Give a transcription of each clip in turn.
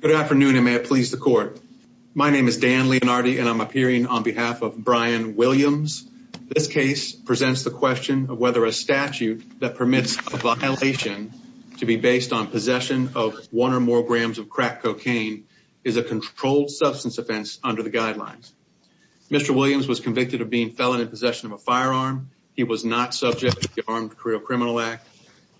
Good afternoon and may it please the court. My name is Dan Leonardi and I'm appearing on behalf of Bryan Williams. This case presents the question of whether a statute that permits a violation to be based on possession of one or more grams of crack cocaine is a controlled substance offense under the guidelines. Mr. Williams was convicted of being felon in possession of a firearm. He was not subject to the Armed Career Criminal Act.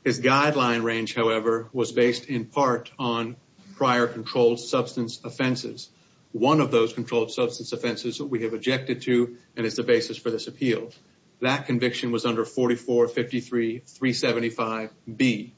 His guideline range, however, was based in part on prior controlled substance offenses, one of those controlled substance offenses that we have objected to and is the basis for this appeal. That conviction was under 4453-375-B.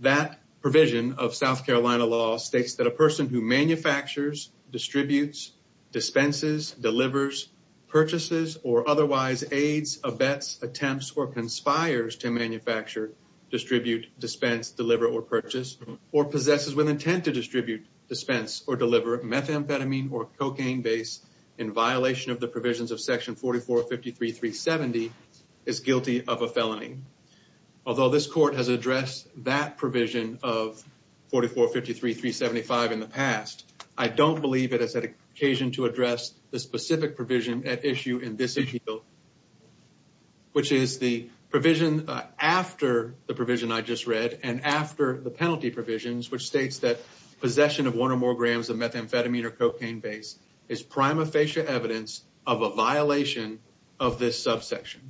That provision of South Carolina law states that a person who manufactures, distributes, dispenses, delivers, purchases, or otherwise aids, abets, attempts, or conspires to manufacture, distribute, dispense, deliver, or purchase, or possesses with intent to distribute, dispense, or deliver methamphetamine or cocaine base in violation of the provisions of section 4453-370 is guilty of a felony. Although this court has addressed that provision of 4453-375 in the past, I don't believe it has had occasion to address the specific provision at issue in this appeal, which is the provision after the provision I just read and after the penalty provisions, which states that possession of one or more grams of methamphetamine or cocaine base is prima facie evidence of a violation of this subsection.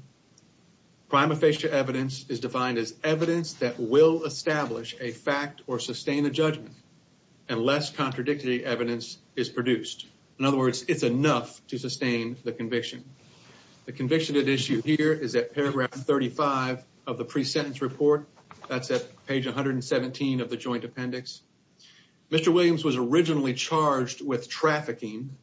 Prima facie evidence is defined as evidence that will establish a fact or sustain a judgment unless contradictory evidence is produced. In other words, it's enough to sustain the conviction. The conviction at issue here is at paragraph 35 of the pre-sentence report. That's at page 117 of the joint appendix. Mr. Williams was originally charged with trafficking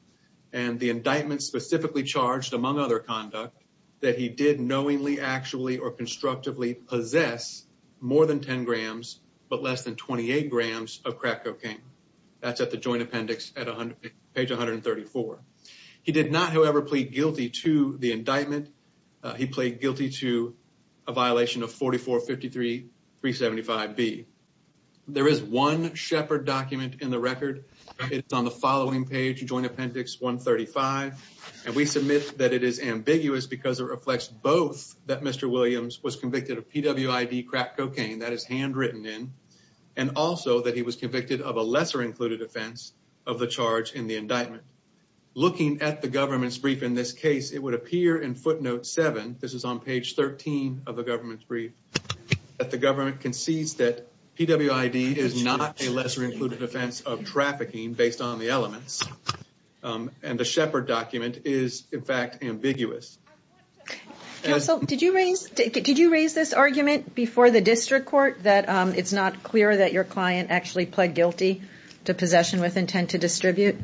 and the indictment specifically charged, among other conduct, that he did knowingly, actually, or constructively possess more than 10 grams, but less than 28 grams of crack cocaine, that's at the joint appendix at page 134. He did not, however, plead guilty to the indictment. He played guilty to a violation of 4453.375B. There is one Shepard document in the record. It's on the following page, joint appendix 135, and we submit that it is ambiguous because it reflects both that Mr. Williams was convicted of PWID crack cocaine, that is handwritten in, and also that he was convicted of a lesser included offense of the charge in the looking at the government's brief in this case, it would appear in footnote seven, this is on page 13 of the government's brief, that the government concedes that PWID is not a lesser included offense of trafficking based on the elements, and the Shepard document is in fact, ambiguous. Counsel, did you raise, did you raise this argument before the district court that it's not clear that your client actually pled guilty to possession with intent to distribute?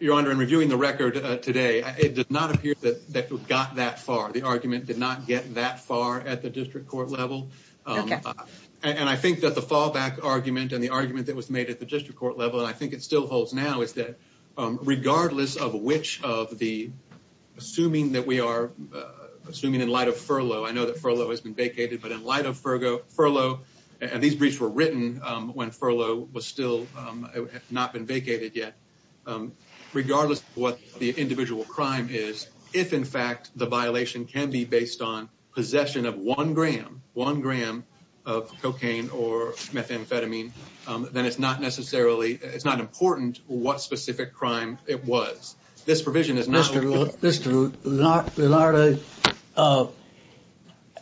Your Honor, in reviewing the record today, it did not appear that it got that far. The argument did not get that far at the district court level. And I think that the fallback argument and the argument that was made at the district court level, and I think it still holds now, is that regardless of which of the, assuming that we are, assuming in light of furlough, I know that furlough has been vacated, but in light of furlough, and these briefs were regardless of what the individual crime is, if in fact, the violation can be based on possession of one gram, one gram of cocaine or methamphetamine, then it's not necessarily, it's not important what specific crime it was. This provision is not... Mr. Lillardo,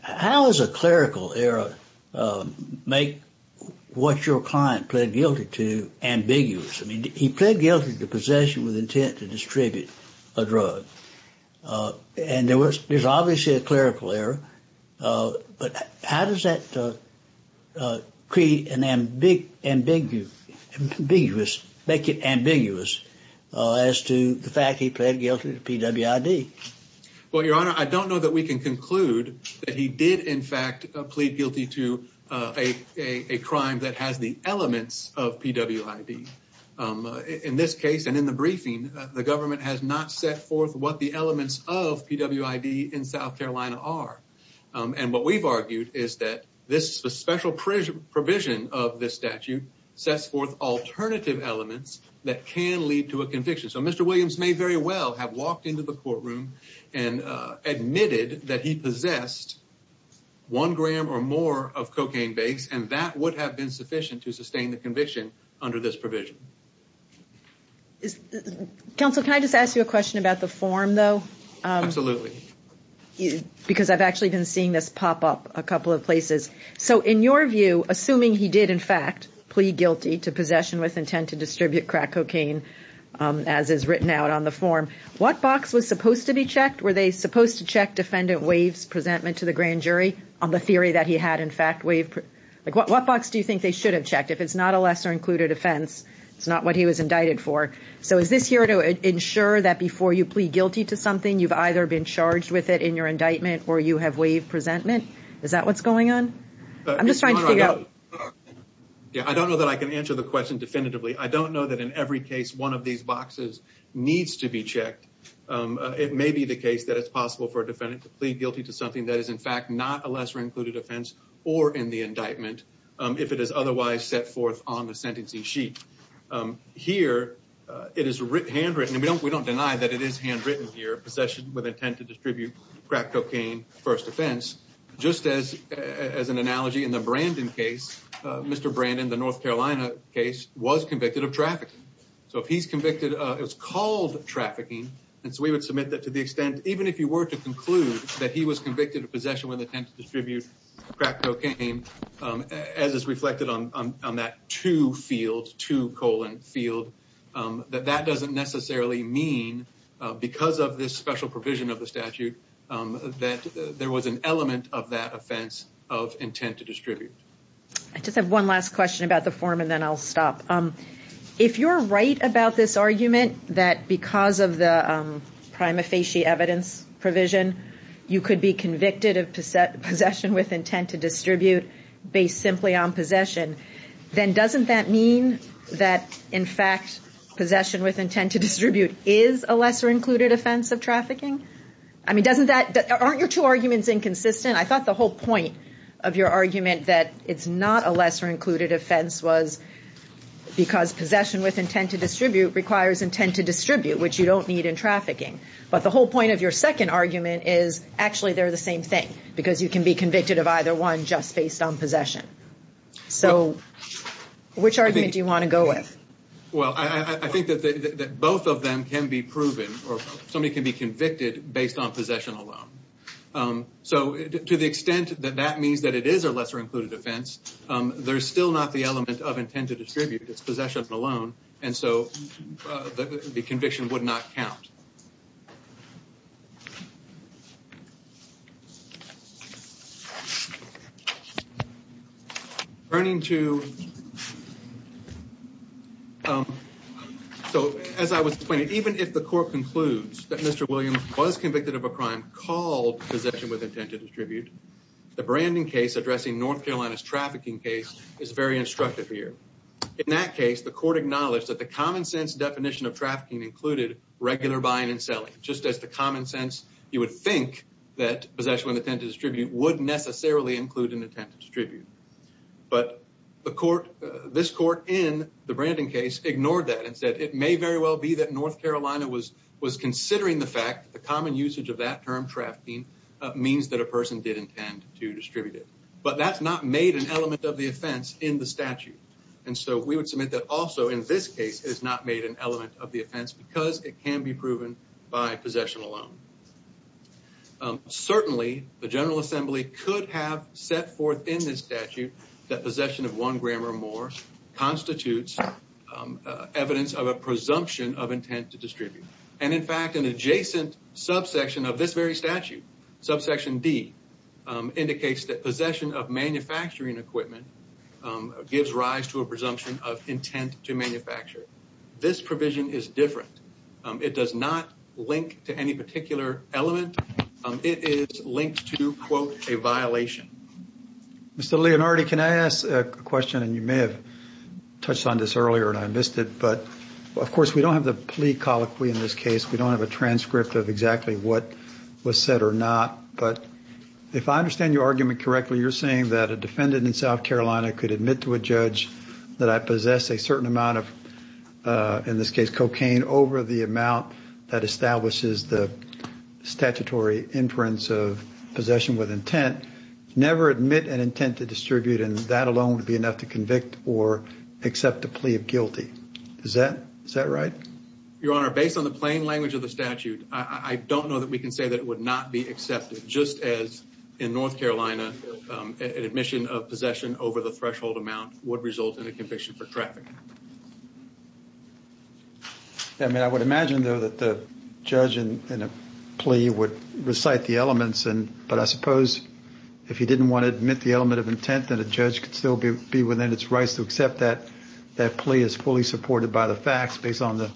how does a clerical error make what your client pled guilty to possession with intent to distribute a drug? And there was, there's obviously a clerical error, but how does that create an ambiguous, make it ambiguous as to the fact he pled guilty to PWID? Well, Your Honor, I don't know that we can conclude that he did in fact plead guilty to a crime that has the elements of PWID. In this case, and in the briefing, the government has not set forth what the elements of PWID in South Carolina are. And what we've argued is that this special provision of this statute sets forth alternative elements that can lead to a conviction. So Mr. Williams may very well have walked into the courtroom and admitted that he possessed one gram or more of cocaine base, and that would have been sufficient to sustain the conviction under this provision. Counsel, can I just ask you a question about the form though? Absolutely. Because I've actually been seeing this pop up a couple of places. So in your view, assuming he did in fact plead guilty to possession with intent to distribute crack cocaine, as is written out on the form, what box was supposed to be checked? Were they supposed to check defendant Wave's presentment to the grand jury on the theory that he had in fact waived? Like what box do you think they should have checked? If it's not a lesser included offense, it's not what he was indicted for. So is this here to ensure that before you plead guilty to something, you've either been charged with it in your indictment or you have waived presentment? Is that what's going on? I'm just trying to figure out. Yeah. I don't know that I can answer the question definitively. I don't know that in every case, one of these boxes needs to be checked. It may be the case that it's possible for a defendant to plead guilty to something that is in fact, not a lesser included offense or in the indictment. If it is otherwise set forth on the sentencing sheet here, it is handwritten. And we don't, we don't deny that it is handwritten here. Possession with intent to distribute crack cocaine, first offense, just as, as an analogy in the Brandon case, Mr. Brandon, the North Carolina case was convicted of trafficking. So if he's convicted, it was called trafficking. And so we would submit that to the extent, even if you were to conclude that he was convicted of possession with intent to distribute crack cocaine, as is reflected on, on, on that two fields, two colon field, that that doesn't necessarily mean because of this special provision of the statute, that there was an element of that offense of intent to distribute. I just have one last question about the form and then I'll stop. If you're right about this argument that because of the prima facie evidence provision, you could be convicted of possession with intent to distribute based simply on possession, then doesn't that mean that in fact, possession with intent to distribute is a lesser included offense of trafficking? I mean, doesn't that, aren't your two arguments inconsistent? I thought the whole point of your argument that it's not a lesser included offense was because possession with intent to distribute requires intent to distribute, which you don't need in trafficking. But the whole point of your second argument is actually they're the same thing because you can be convicted of either one just based on possession. So which argument do you want to go with? Well, I think that both of them can be proven or somebody can be convicted based on possession alone. So to the extent that that means that it is a lesser included offense, there's still not the element of intent to distribute, it's possession alone. And so the conviction would not count. So as I was explaining, even if the court concludes that Mr. Williams was convicted of a crime called possession with intent to distribute, the branding case addressing North Carolina's trafficking case is very instructive here. In that case, the court acknowledged that the common sense definition of Just as the common sense, you would think that possession with intent to distribute would necessarily include an intent to distribute, but the court, this court in the branding case ignored that and said, it may very well be that North Carolina was considering the fact that the common usage of that term trafficking means that a person did intend to distribute it, but that's not made an element of the offense in the statute. And so we would submit that also in this case is not made an element of the by possession alone, certainly the general assembly could have set forth in this statute that possession of one gram or more constitutes evidence of a presumption of intent to distribute. And in fact, an adjacent subsection of this very statute, subsection D indicates that possession of manufacturing equipment gives rise to a presumption of intent to manufacture. This provision is different. It does not link to any particular element. It is linked to quote a violation. Mr. Leonardi, can I ask a question and you may have touched on this earlier and I missed it, but of course we don't have the plea colloquy in this case. We don't have a transcript of exactly what was said or not, but if I understand your argument correctly, you're saying that a defendant in South Carolina could admit to a judge that I possess a certain amount of, in this case, cocaine over the amount that establishes the statutory inference of possession with intent, never admit an intent to distribute and that alone would be enough to convict or accept a plea of guilty. Is that, is that right? Your Honor, based on the plain language of the statute, I don't know that we can say that it would not be accepted just as in North Carolina, an admission of would result in a conviction for traffic. I mean, I would imagine though that the judge in a plea would recite the elements and, but I suppose if he didn't want to admit the element of intent that a judge could still be, be within its rights to accept that, that plea is fully supported by the facts based on the,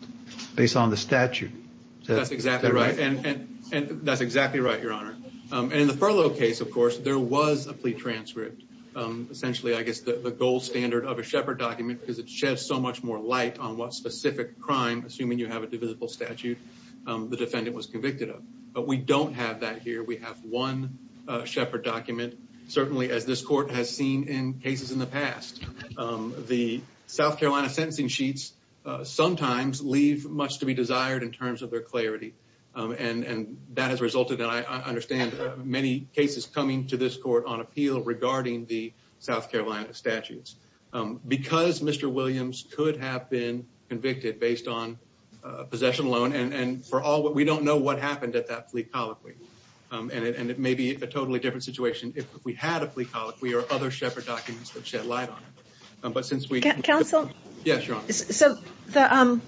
based on the statute. That's exactly right. And, and, and that's exactly right, Your Honor. And in the furlough case, of course, there was a plea transcript. Essentially, I guess the gold standard of a Shepard document because it sheds so much more light on what specific crime, assuming you have a divisible statute, the defendant was convicted of. But we don't have that here. We have one Shepard document, certainly as this court has seen in cases in the past. The South Carolina sentencing sheets sometimes leave much to be desired in terms of their clarity. And, and that has resulted in, I understand many cases coming to this court on appeal regarding the South Carolina statutes because Mr. Williams could have been convicted based on possession alone. And, and for all, we don't know what happened at that plea colloquy. And it, and it may be a totally different situation if we had a plea colloquy or other Shepard documents that shed light on it, but since we- Counsel? Yes, Your Honor. So the,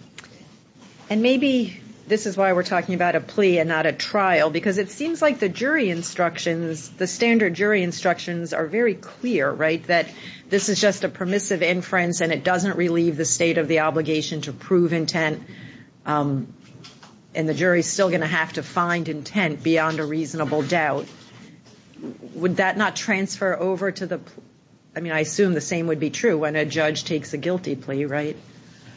and maybe this is why we're talking about a plea and not a trial, because it seems like the jury instructions, the standard jury instructions are very clear, right? That this is just a permissive inference and it doesn't relieve the state of the obligation to prove intent. And the jury is still going to have to find intent beyond a reasonable doubt. Would that not transfer over to the, I mean, I assume the same would be true when a judge takes a guilty plea, right?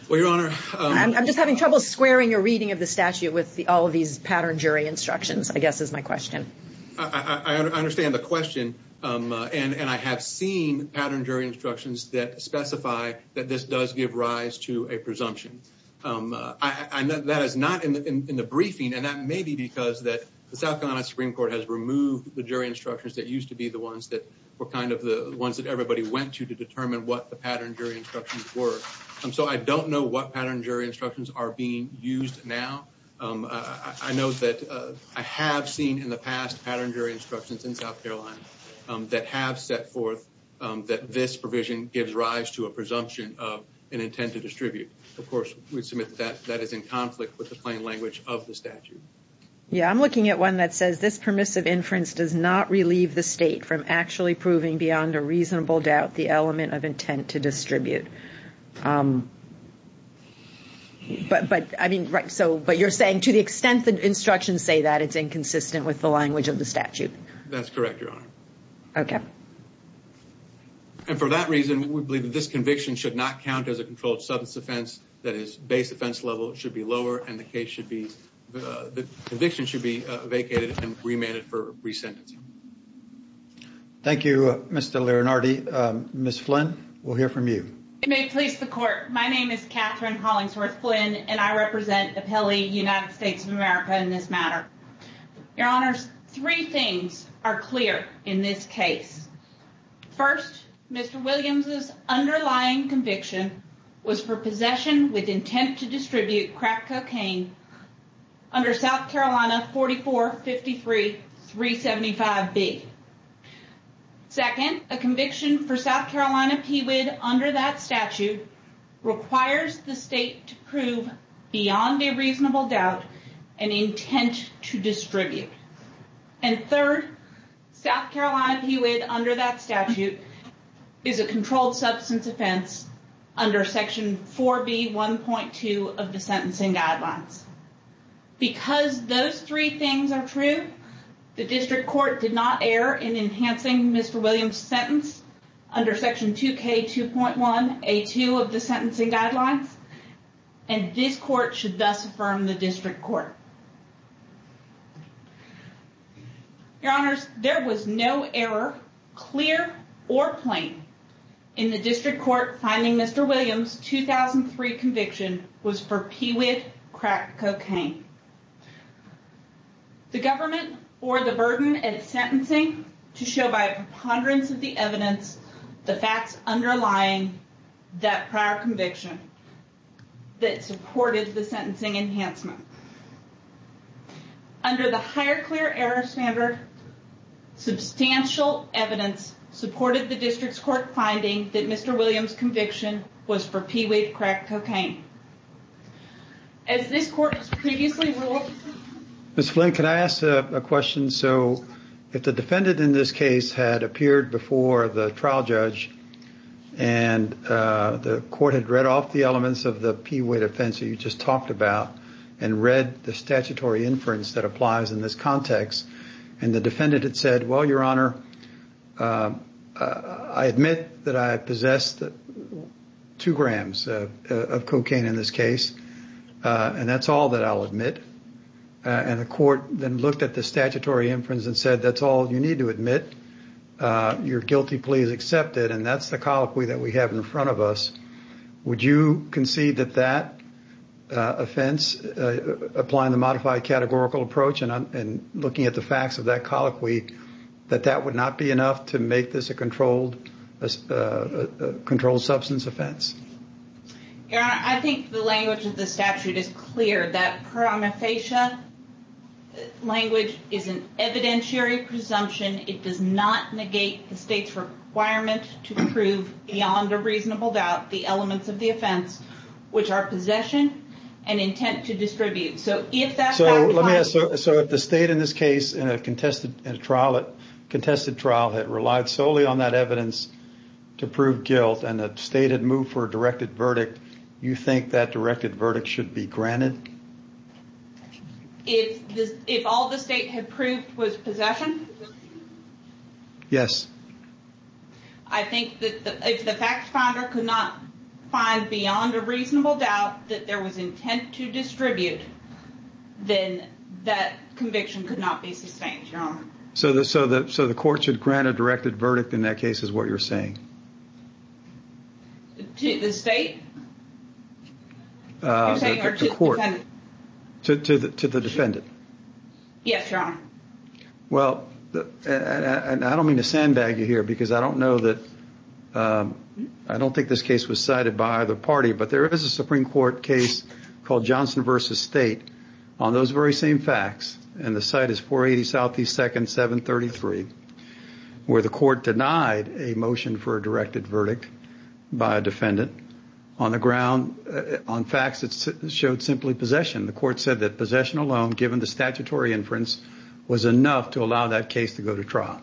Well, Your Honor- I'm just having trouble squaring a reading of the statute with the, all I guess is my question. I understand the question. And, and I have seen pattern jury instructions that specify that this does give rise to a presumption. I know that is not in the, in the briefing. And that may be because that the South Carolina Supreme Court has removed the jury instructions that used to be the ones that were kind of the ones that everybody went to, to determine what the pattern jury instructions were. And so I don't know what pattern jury instructions are being used now. I know that I have seen in the past pattern jury instructions in South Carolina that have set forth that this provision gives rise to a presumption of an intent to distribute. Of course, we submit that that is in conflict with the plain language of the statute. Yeah. I'm looking at one that says this permissive inference does not relieve the state from actually proving beyond a reasonable doubt, the element of intent to distribute. But, but I mean, right. So, but you're saying to the extent that instructions say that it's inconsistent with the language of the statute. That's correct, Your Honor. Okay. And for that reason, we believe that this conviction should not count as a controlled substance offense that is base offense level, it should be lower. And the case should be, the conviction should be vacated and remanded for re-sentencing. Thank you, Mr. Lirinardi. Ms. Flynn, we'll hear from you. It may please the court. My name is Katherine Hollingsworth Flynn, and I represent Appelli United States of America in this matter. Your Honors, three things are clear in this case. First, Mr. Williams's underlying conviction was for possession with intent to distribute crack cocaine under South Carolina 4453-375B. Second, a conviction for South Carolina PWID under that statute requires the state to prove beyond a reasonable doubt an intent to distribute. And third, South Carolina PWID under that statute is a controlled substance offense under section 4B.1.2 of the sentencing guidelines. Because those three things are true, the district court did not err in enhancing Mr. Williams' sentence under section 2K2.1A2 of the sentencing guidelines. And this court should thus affirm the district court. Your Honors, there was no error, clear or plain, in the district court finding Mr. Williams' 2003 conviction was for PWID crack cocaine. The government bore the burden at sentencing to show by a preponderance of the evidence, the facts underlying that prior conviction that supported the sentencing enhancement. Under the higher clear error standard, substantial evidence supported the district's court finding that Mr. Williams' conviction was for PWID crack cocaine. As this court previously ruled. Ms. Flynn, can I ask a question? So if the defendant in this case had appeared before the trial judge and the court had read off the elements of the PWID offense that you just talked about and read the statutory inference that applies in this context, and the defendant had said, well, Your Honor, I admit that I possessed two grams of crack cocaine in this case, and that's all that I'll admit. And the court then looked at the statutory inference and said, that's all you need to admit, your guilty plea is accepted, and that's the colloquy that we have in front of us. Would you concede that that offense, applying the modified categorical approach and looking at the facts of that colloquy, that that would not be enough to make this a controlled substance offense? Your Honor, I think the language of the statute is clear that promephasia language is an evidentiary presumption. It does not negate the state's requirement to prove beyond a reasonable doubt, the elements of the offense, which are possession and intent to distribute. So if that fact applies- So let me ask, so if the state in this case, in a contested trial, that relied solely on that evidence to prove guilt, and the state had moved for a directed verdict, you think that directed verdict should be granted? If this, if all the state had proved was possession? Yes. I think that if the fact finder could not find beyond a reasonable doubt that there was intent to distribute, then that conviction could not be sustained, Your Honor. So the, so the, so the court should grant a directed verdict in that case is what you're saying? To the state? You're saying or to the defendant? To the court. To the defendant. Yes, Your Honor. Well, I don't mean to sandbag you here, because I don't know that, I don't think this case was cited by either party, but there is a Supreme Court case called Johnson versus State on those very same facts, and the site is 480 Southeast 2nd, 733, where the court denied a motion for a directed verdict by a defendant on the ground, on facts that showed simply possession. The court said that possession alone, given the statutory inference, was enough to allow that case to go to trial.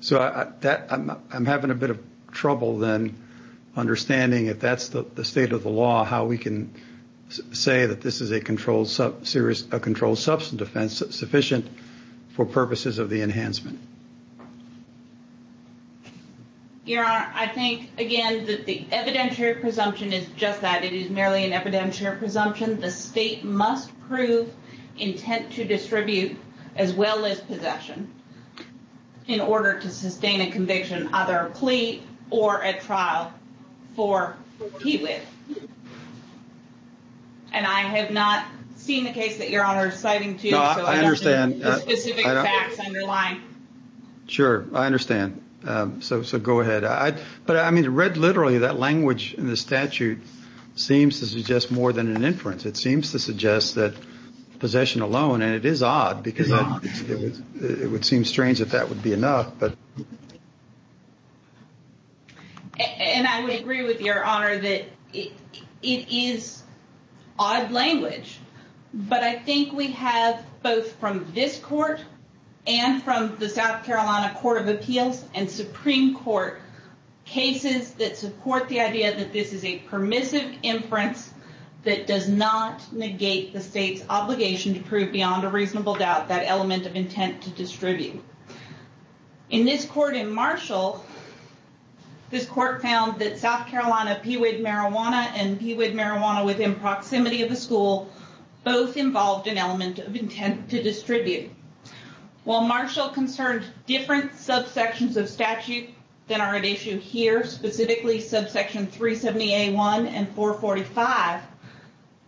So that I'm, I'm having a bit of trouble then understanding if that's the state of the law, how we can say that this is a controlled sub serious, a controlled substance offense sufficient for purposes of the enhancement. Your Honor, I think, again, that the evidentiary presumption is just that. It is merely an evidentiary presumption. The state must prove intent to distribute, as well as possession, in order to sustain a conviction, either a plea or a trial for PWIH. And I have not seen the case that Your Honor is citing to you, so I don't understand, I don't, sure, I understand. So, so go ahead. I, but I mean, read literally that language in the statute seems to suggest more than an inference. It seems to suggest that possession alone, and it is odd because it would seem strange that that would be enough, but, and I would agree with your this court and from the South Carolina Court of Appeals and Supreme Court cases that support the idea that this is a permissive inference that does not negate the state's obligation to prove beyond a reasonable doubt that element of intent to distribute. In this court in Marshall, this court found that South Carolina PEEWID marijuana and PEEWID marijuana within proximity of the school, both involved an element of intent to distribute. While Marshall concerned different subsections of statute than are at issue here, specifically subsection 370A1 and 445,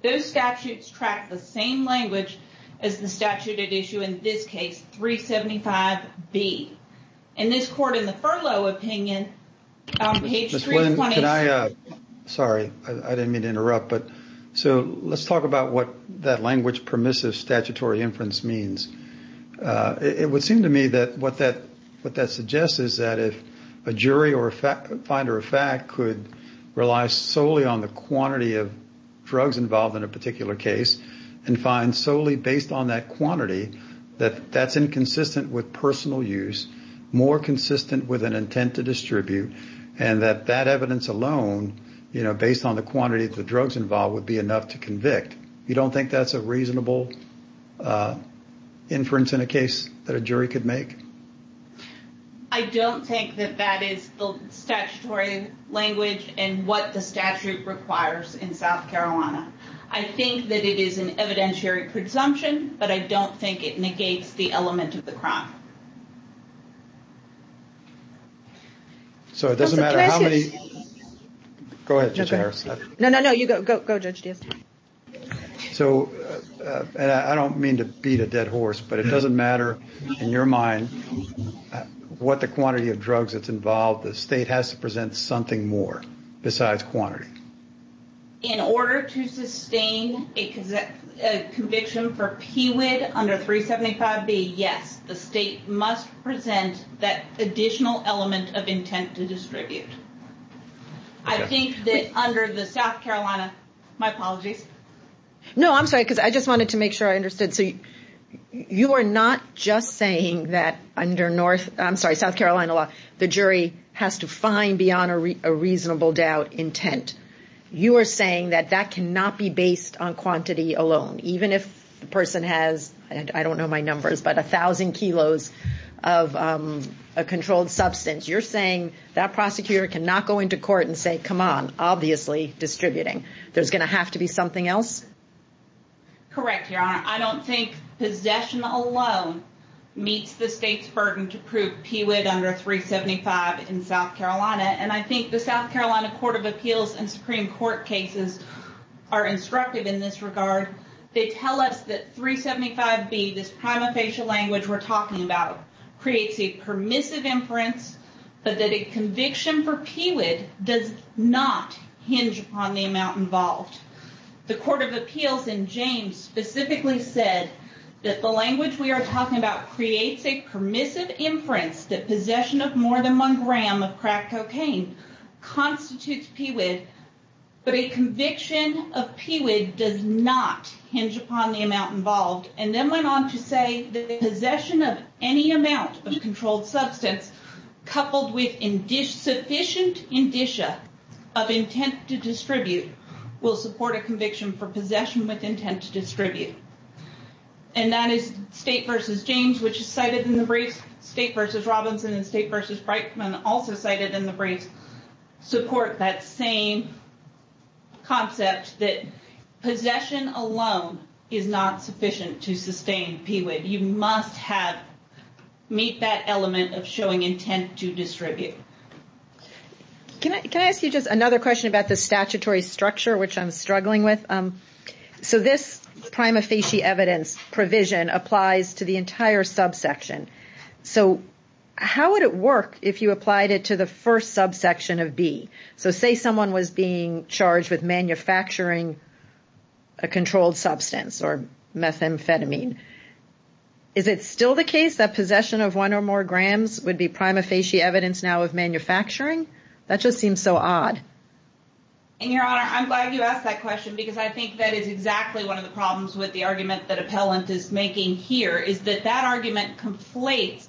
those statutes track the same language as the statute at issue in this case, 375B, and this court in the furlough opinion, on page 326. Ms. Glenn, can I, sorry, I didn't mean to interrupt, but, so let's talk about what that language permissive statutory inference means, it would seem to me that what that, what that suggests is that if a jury or a fact, finder of fact could rely solely on the quantity of drugs involved in a particular case and find solely based on that quantity, that that's inconsistent with personal use, more consistent with an intent to distribute, and that that evidence alone, you know, based on the quantity of the drugs involved would be enough to make a case, you don't think that's a reasonable inference in a case that a jury could make? I don't think that that is the statutory language and what the statute requires in South Carolina. I think that it is an evidentiary presumption, but I don't think it negates the element of the crime. So it doesn't matter how many, go ahead, Judge Harris. No, no, no, you go, go, go Judge Diaz. So I don't mean to beat a dead horse, but it doesn't matter in your mind what the quantity of drugs that's involved, the state has to present something more besides quantity. In order to sustain a conviction for PWID under 375B, yes, the state must present that additional element of intent to distribute. I think that under the South Carolina, my apologies. No, I'm sorry. Cause I just wanted to make sure I understood. So you are not just saying that under North, I'm sorry, South Carolina law, the jury has to find beyond a reasonable doubt intent. You are saying that that cannot be based on quantity alone, even if the person has, I don't know my numbers, but a thousand kilos of a controlled substance. You're saying that prosecutor cannot go into court and say, come on, obviously distributing. There's going to have to be something else. Correct. Your Honor, I don't think possession alone meets the state's burden to prove PWID under 375 in South Carolina. And I think the South Carolina court of appeals and Supreme court cases are instructive in this regard. They tell us that 375B, this prima facie language we're talking about creates a permissive inference, but that a conviction for PWID does not hinge upon the amount involved. The court of appeals in James specifically said that the language we are talking about creates a permissive inference that possession of more than one gram of crack cocaine constitutes PWID, but a conviction of PWID does not hinge upon the amount involved. And then went on to say that the possession of any amount of controlled substance coupled with sufficient indicia of intent to distribute will support a conviction for possession with intent to distribute. And that is state versus James, which is cited in the briefs, state versus Robinson and state versus Brightman also cited in the briefs support that same concept that possession alone is not sufficient to sustain PWID. You must have meet that element of showing intent to distribute. Can I, can I ask you just another question about the statutory structure, which I'm struggling with? So this prima facie evidence provision applies to the entire subsection. So how would it work if you applied it to the first subsection of B? So say someone was being charged with manufacturing a controlled substance or methamphetamine. Is it still the case that possession of one or more grams would be prima facie evidence now of manufacturing? That just seems so odd. And your honor, I'm glad you asked that question because I think that is exactly one of the problems with the argument that appellant is making here is that that argument conflates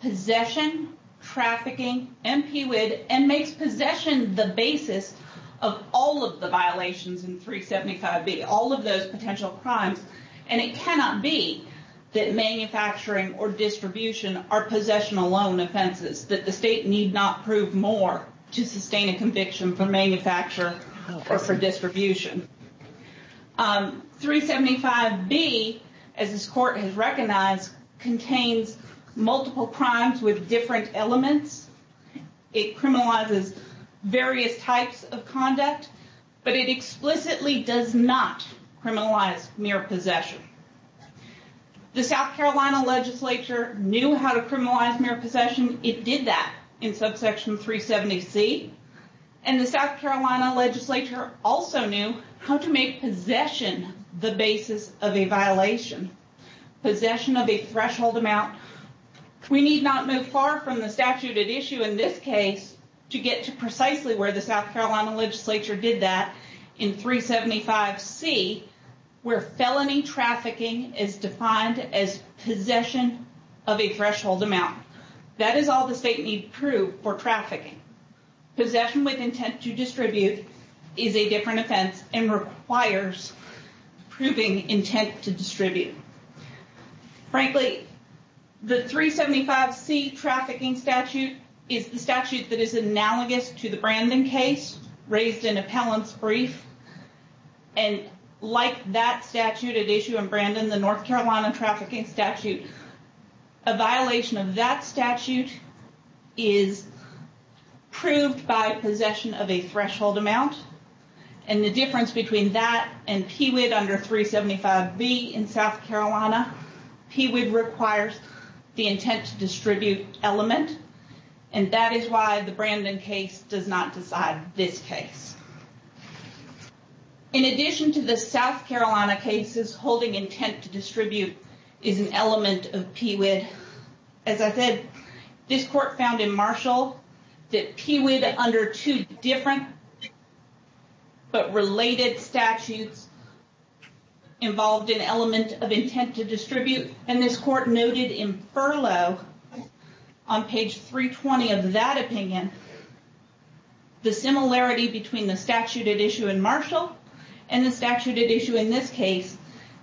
possession, trafficking, and PWID and makes possession the basis of all of the violations in 375B, all of those potential crimes, and it cannot be that manufacturing or distribution are possession alone offenses. That the state need not prove more to sustain a conviction for manufacture or for distribution. 375B, as this court has recognized, contains multiple crimes with different elements. It criminalizes various types of conduct, but it explicitly does not criminalize mere possession. The South Carolina legislature knew how to criminalize mere possession. It did that in subsection 370C, and the South Carolina legislature also knew how to make possession the basis of a violation, possession of a threshold amount, we need not move far from the statute at issue in this case to get to precisely where the South Carolina legislature did that in 375C, where felony trafficking is defined as possession of a threshold amount. That is all the state need prove for trafficking. Possession with intent to distribute is a different offense and requires proving intent to distribute. Frankly, the 375C trafficking statute is the statute that is analogous to the Brandon case, raised in appellant's brief. And like that statute at issue in Brandon, the North Carolina trafficking statute, a violation of that statute is proved by possession of a threshold amount, and the difference between that and PWID under 375B in South Carolina, PWID requires the intent to distribute element. And that is why the Brandon case does not decide this case. In addition to the South Carolina cases, holding intent to distribute is an element of PWID. As I said, this court found in Marshall that PWID under two different, but the same intent to distribute, and this court noted in furlough on page 320 of that opinion, the similarity between the statute at issue in Marshall and the statute at issue in this case,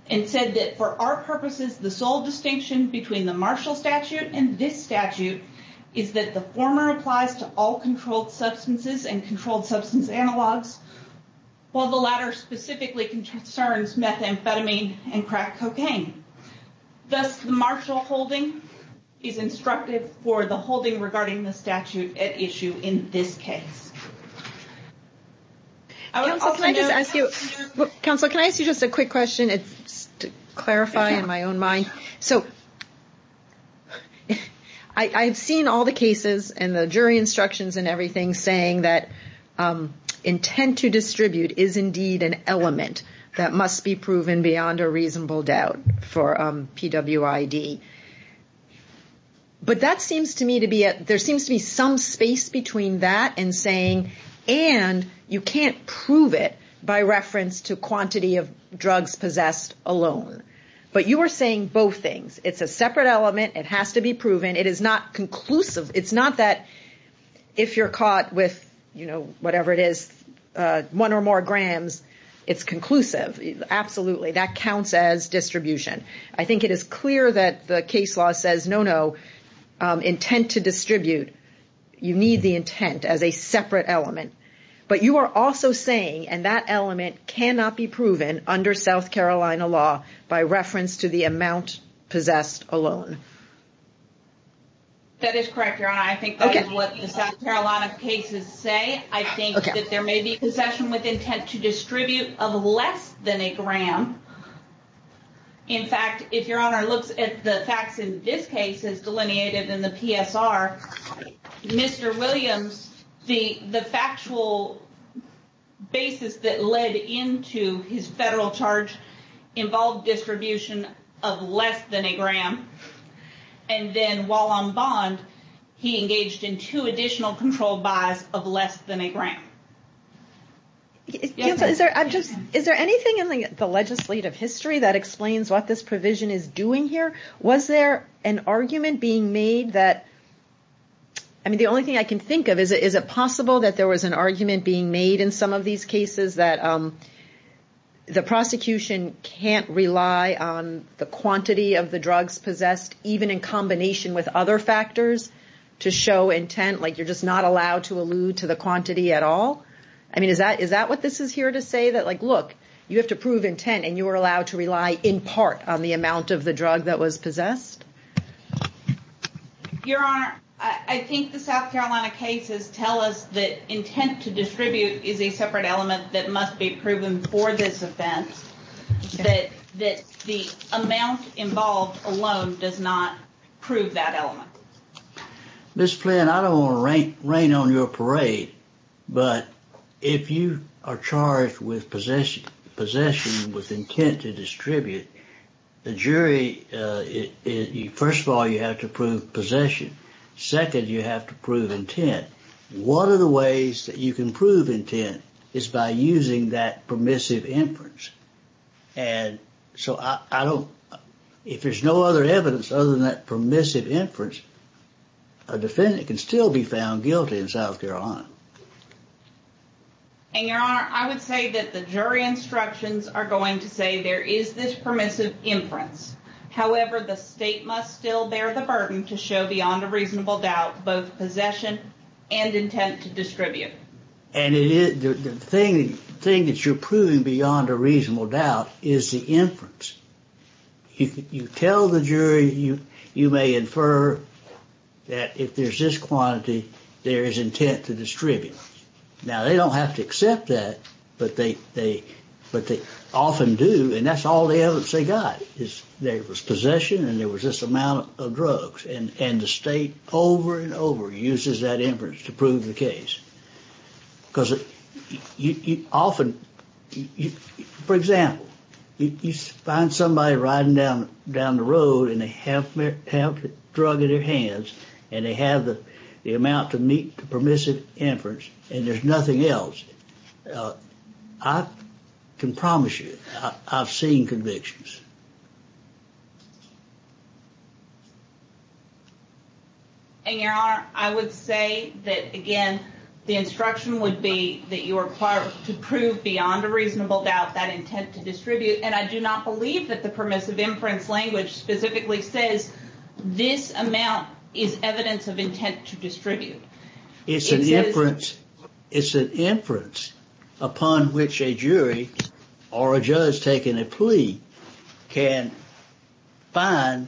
and said that for our purposes, the sole distinction between the Marshall statute and this statute is that the former applies to all controlled substances and controlled substance analogs, while the latter specifically concerns methamphetamine and crack cocaine. Thus, the Marshall holding is instructive for the holding regarding the statute at issue in this case. I would also note- Counsel, can I just ask you, counsel, can I ask you just a quick question? It's to clarify in my own mind. So, I've seen all the cases and the jury instructions and everything saying that intent to distribute is indeed an element that must be proven beyond a reasonable doubt for PWID, but that seems to me to be, there seems to be some space between that and saying, and you can't prove it by reference to quantity of drugs possessed alone, but you were saying both things. It's a separate element. It has to be proven. It is not conclusive. It's not that if you're caught with, you know, whatever it is, one or more grams, it's conclusive. Absolutely. That counts as distribution. I think it is clear that the case law says, no, no, intent to distribute. You need the intent as a separate element, but you are also saying, and that element cannot be proven under South Carolina law by reference to the amount possessed alone. That is correct, Your Honor. I think that is what the South Carolina cases say. I think that there may be possession with intent to distribute of less than a gram. In fact, if Your Honor looks at the facts in this case as delineated in the PSR, Mr. Williams, the factual basis that led into his federal charge involved distribution of less than a gram. And then while on bond, he engaged in two additional controlled buys of less than a gram. Is there anything in the legislative history that explains what this provision is doing here? Was there an argument being made that, I mean, the only thing I can think of is, is it possible that there was an argument being made in some of these cases that the prosecution can't rely on the quantity of the drugs possessed, even in combination with other factors to show intent? Like you're just not allowed to allude to the quantity at all? I mean, is that, is that what this is here to say? That like, look, you have to prove intent and you are allowed to rely in part on the amount of the drug that was possessed? Your Honor, I think the South Carolina cases tell us that intent to distribute is a separate element that must be proven for this offense, that the amount involved alone does not prove that element. Ms. Flynn, I don't want to rain on your parade, but if you are charged with possession, with intent to distribute, the jury, first of all, you have to prove possession, second, you have to prove intent. One of the ways that you can prove intent is by using that permissive inference. And so I don't, if there's no other evidence other than that permissive inference, a defendant can still be found guilty in South Carolina. And Your Honor, I would say that the jury instructions are going to say there is this permissive inference. However, the state must still bear the burden to show beyond a reasonable doubt, both possession and intent to distribute. And the thing that you're proving beyond a reasonable doubt is the inference. You tell the jury, you may infer that if there's this quantity, there is intent to distribute. Now they don't have to accept that, but they often do. And that's all the evidence they got is there was possession and there was this amount of drugs. And the state over and over uses that inference to prove the case. Because often, for example, you find somebody riding down the road and they have the drug in their hands and they have the amount to meet the permissive inference and there's nothing else, I can promise you I've seen convictions. And Your Honor, I would say that, again, the instruction would be that you are required to prove beyond a reasonable doubt that intent to distribute. And I do not believe that the permissive inference language specifically says this amount is evidence of intent to distribute. It's an inference, it's an inference upon which a jury or a judge taken a plea. Can find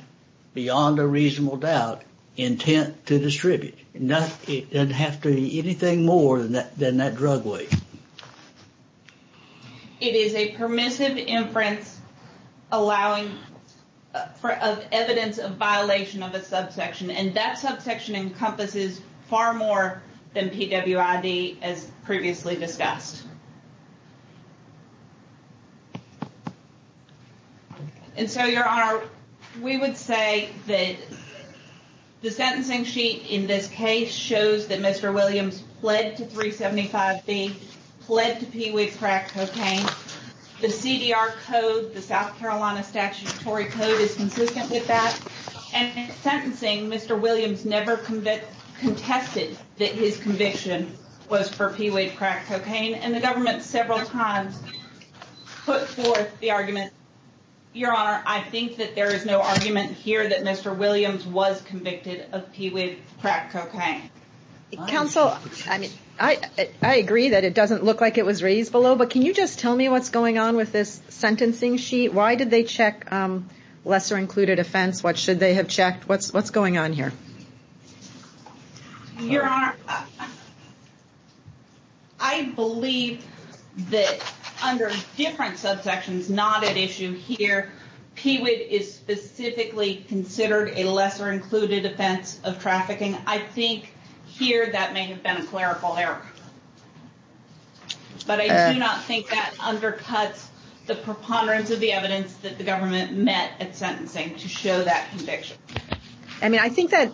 beyond a reasonable doubt intent to distribute. No, it doesn't have to be anything more than that, than that drug weight. It is a permissive inference allowing for evidence of violation of a subsection. And that subsection encompasses far more than PWID as previously discussed. And so, Your Honor, we would say that the sentencing sheet in this case shows that Mr. Williams pled to 375B, pled to PWID crack cocaine. The CDR code, the South Carolina statutory code is consistent with that. And in sentencing, Mr. Williams never convicted, contested that his conviction was for PWID crack cocaine. And the government several times put forth the argument. Your Honor, I think that there is no argument here that Mr. Williams was convicted of PWID crack cocaine. Counsel, I mean, I, I agree that it doesn't look like it was raised below. But can you just tell me what's going on with this sentencing sheet? Why did they check lesser included offense? What should they have checked? What's, what's going on here? Your Honor, I believe that under different subsections, not at issue here. PWID is specifically considered a lesser included offense of trafficking. I think here that may have been a clerical error. But I do not think that undercuts the preponderance of the evidence that the government met at sentencing to show that conviction. I mean, I think that,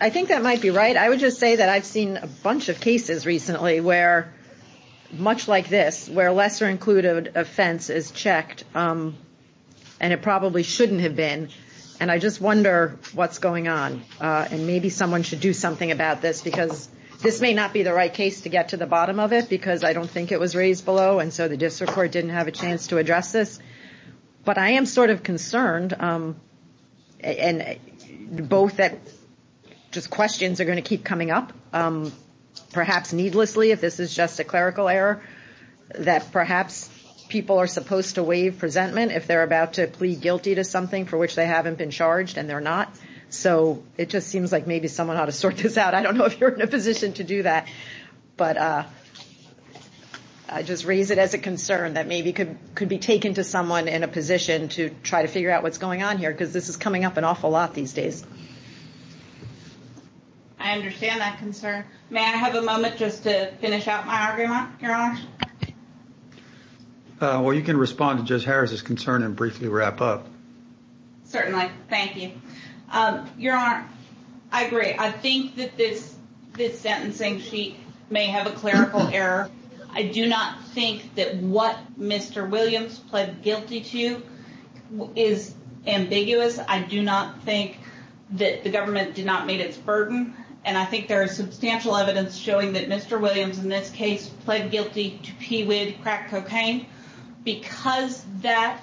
I think that might be right. I would just say that I've seen a bunch of cases recently where, much like this, where lesser included offense is checked and it probably shouldn't have been. And I just wonder what's going on and maybe someone should do something about this because this may not be the right case to get to the bottom of it because I don't think it was raised below and so the district court didn't have a chance to address this. But I am sort of concerned and both that just questions are going to keep coming up. Perhaps needlessly if this is just a clerical error. That perhaps people are supposed to waive presentment if they're about to plead guilty to something for which they haven't been charged and they're not. So it just seems like maybe someone ought to sort this out. I don't know if you're in a position to do that. But I just raise it as a concern that maybe could, could be taken to someone in a position to try to figure out what's going on here. Because this is coming up an awful lot these days. I understand that concern. May I have a moment just to finish out my argument, your honor? Well, you can respond to Judge Harris' concern and briefly wrap up. Certainly. Thank you. Your honor, I agree. I think that this, this sentencing sheet may have a clerical error. I do not think that what Mr. Williams pled guilty to is ambiguous. I do not think that the government did not meet its burden. And I think there is substantial evidence showing that Mr. Williams, in this case, pled guilty to pee weed, crack cocaine. Because that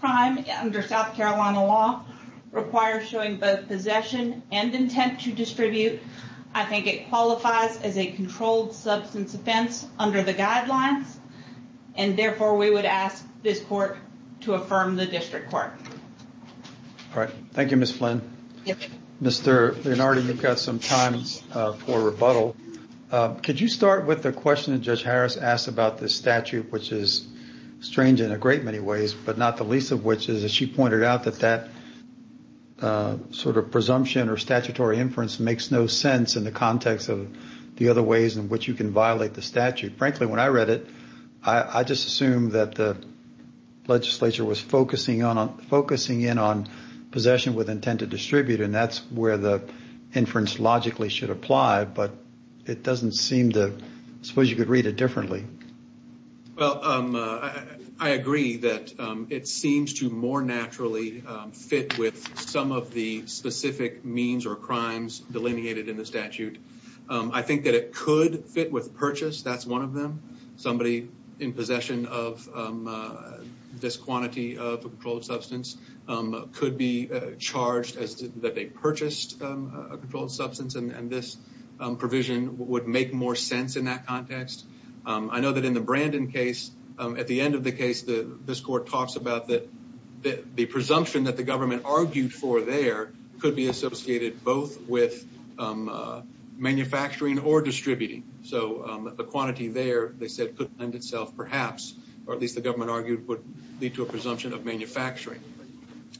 crime under South Carolina law requires showing both possession and intent to distribute. I think it qualifies as a controlled substance offense under the guidelines. And therefore, we would ask this court to affirm the district court. All right. Thank you, Ms. Flynn. Yes. Mr. Linardi, you've got some time for rebuttal. Could you start with the question that Judge Harris asked about this statute, which is strange in a great many ways, but not the least of which is that she doesn't have a sense in the context of the other ways in which you can violate the statute. Frankly, when I read it, I, I just assumed that the legislature was focusing on, focusing in on possession with intent to distribute, and that's where the inference logically should apply. But it doesn't seem to, suppose you could read it differently. Well I, I agree that it seems to more naturally fit with some of the specific means or crimes delineated in the statute. I think that it could fit with purchase, that's one of them. Somebody in possession of this quantity of a controlled substance could be charged as to, that they purchased a controlled substance. And, and this provision would make more sense in that context. I know that in the Brandon case, at the end of the case, the, this court talks about that, that the presumption that the government argued for there could be associated both with manufacturing or distributing. So the quantity there, they said, could lend itself perhaps, or at least the government argued, would lead to a presumption of manufacturing.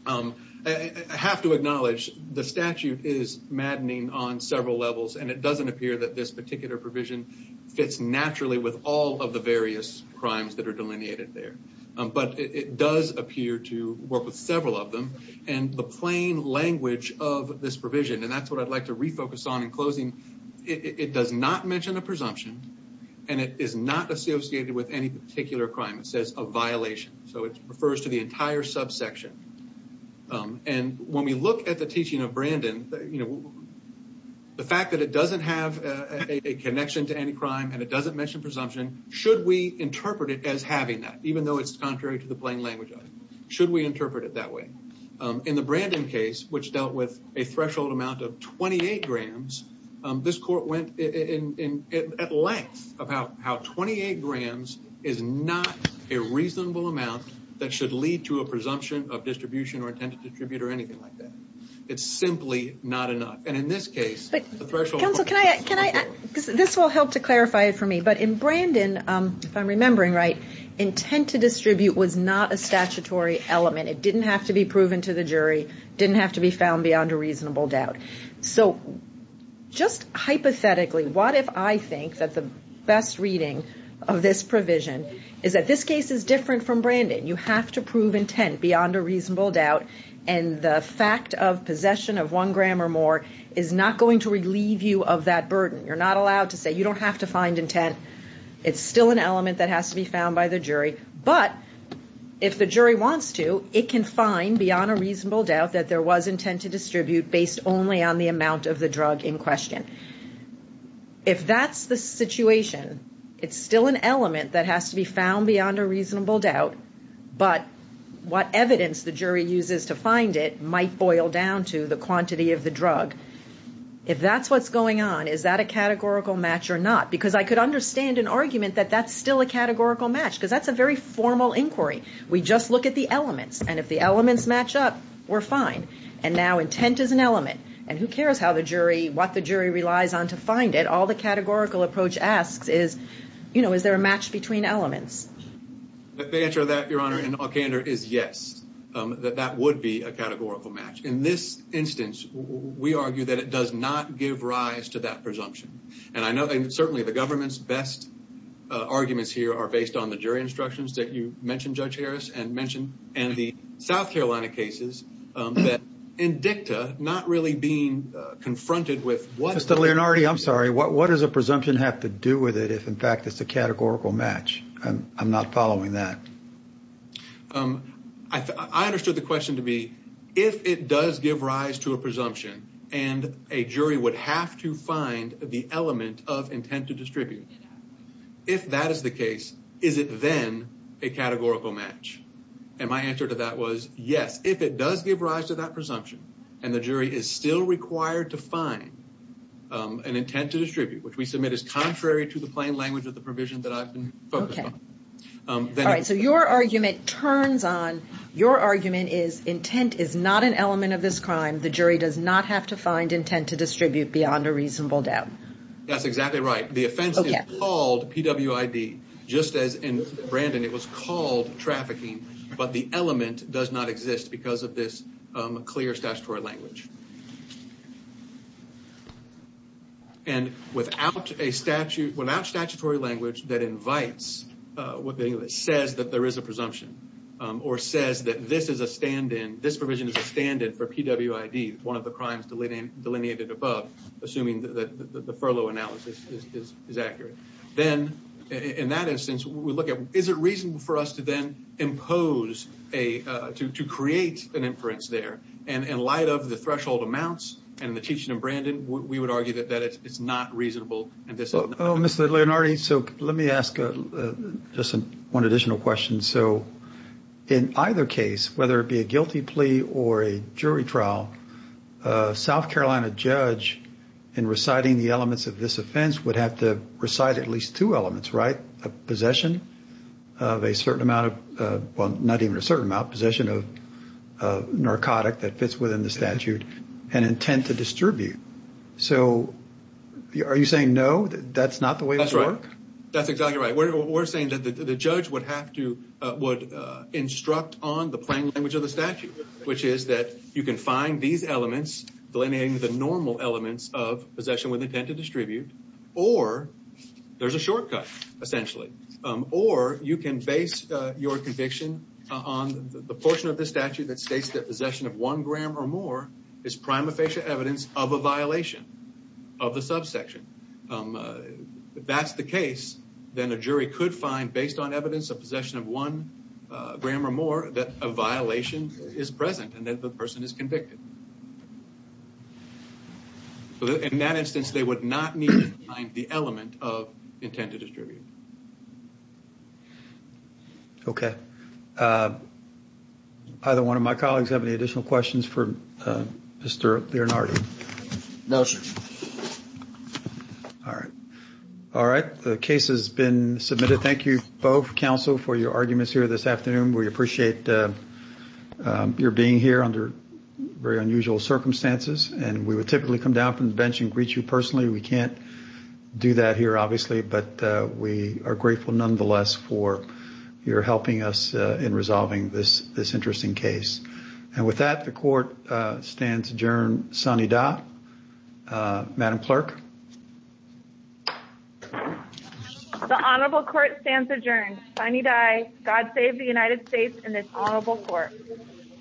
I, I have to acknowledge the statute is maddening on several levels, and it doesn't appear that this particular provision fits naturally with all of the various crimes that are delineated there. But it, it does appear to work with several of them. And the plain language of this provision, and that's what I'd like to refocus on in closing, it, it does not mention a presumption, and it is not associated with any particular crime, it says a violation. So it refers to the entire subsection. And when we look at the teaching of Brandon, you know, the fact that it doesn't have a, a connection to any crime, and it doesn't mention presumption, should we interpret it as having that, even though it's contrary to the plain language of it? Should we interpret it that way? In the Brandon case, which dealt with a threshold amount of 28 grams, this court went in, in, in, at length about how 28 grams is not a reasonable amount that should lead to a presumption of distribution or intended distribute or anything like that. It's simply not enough. And in this case, the threshold- But, counsel, can I, can I, this will help to clarify it for me. But in Brandon, if I'm remembering right, intent to distribute was not a statutory element. It didn't have to be proven to the jury. Didn't have to be found beyond a reasonable doubt. So, just hypothetically, what if I think that the best reading of this provision is that this case is different from Brandon. You have to prove intent beyond a reasonable doubt. And the fact of possession of one gram or more is not going to relieve you of that burden. You're not allowed to say, you don't have to find intent. It's still an element that has to be found by the jury. But, if the jury wants to, it can find beyond a reasonable doubt that there was intent to distribute based only on the amount of the drug in question. If that's the situation, it's still an element that has to be found beyond a reasonable doubt, but what evidence the jury uses to find it might boil down to the quantity of the drug. If that's what's going on, is that a categorical match or not? Because I could understand an argument that that's still a categorical match, because that's a very formal inquiry. We just look at the elements, and if the elements match up, we're fine. And now intent is an element. And who cares how the jury, what the jury relies on to find it? All the categorical approach asks is, is there a match between elements? The answer to that, Your Honor, in all candor is yes. That that would be a categorical match. In this instance, we argue that it does not give rise to that presumption. And I know, certainly, the government's best arguments here are based on the jury instructions that you mentioned, Judge Harris, and the South Carolina cases that, in dicta, not really being confronted with what- Mr. Leonardi, I'm sorry. What does a presumption have to do with it if, in fact, it's a categorical match? I'm not following that. I understood the question to be, if it does give rise to a presumption and a jury would have to find the element of intent to distribute, if that is the case, is it then a categorical match? And my answer to that was, yes. If it does give rise to that presumption and the jury is still required to find an intent to distribute, which we submit as contrary to the plain language of your argument turns on, your argument is intent is not an element of this crime. The jury does not have to find intent to distribute beyond a reasonable doubt. That's exactly right. The offense is called PWID, just as in Brandon, it was called trafficking, but the element does not exist because of this clear statutory language. And without a statute, without statutory language that invites what the English says that there is a presumption or says that this is a stand-in, this provision is a stand-in for PWID, one of the crimes delineated above, assuming that the furlough analysis is accurate, then, in that instance, we look at, is it reasonable for us to then impose a, to create an inference there? And in light of the threshold amounts and the teaching of Brandon, we would argue that it's not reasonable. Mr. Leonardi, so let me ask just one additional question. So in either case, whether it be a guilty plea or a jury trial, a South Carolina judge in reciting the elements of this offense would have to recite at least two elements, right? A possession of a certain amount of, well, not even a certain amount, possession of a narcotic that fits within the statute and intent to distribute. So are you saying, no, that's not the way this works? That's exactly right. We're saying that the judge would have to, would instruct on the plain language of the statute, which is that you can find these elements delineating the normal elements of possession with intent to distribute, or there's a shortcut, essentially, or you can base your conviction on the portion of the statute that states that possession of one gram or more is prima facie evidence of a violation of the subsection. If that's the case, then a jury could find, based on evidence of possession of one gram or more, that a violation is present and that the person is convicted. In that instance, they would not need to find the element of intent to distribute. Okay. Either one of my colleagues have any additional questions for Mr. Lianardi? No, sir. All right. All right. The case has been submitted. Thank you both, counsel, for your arguments here this afternoon. We appreciate your being here under very unusual circumstances, and we would typically come down from the bench and greet you personally. Thank you. Thank you. Thank you. Thank you. Thank you. Thank you. Thank you. Thank you. Thank you. Thank you. Thank you. Thank you. Thank you. And we are grateful, nonetheless, for your helping us in resolving this interesting case. With that, the Court stands adjourned. Sinidad. Madam Clerk? The Honorable Court stands adjourned. Sinidad God save the United States and this Honorable Court.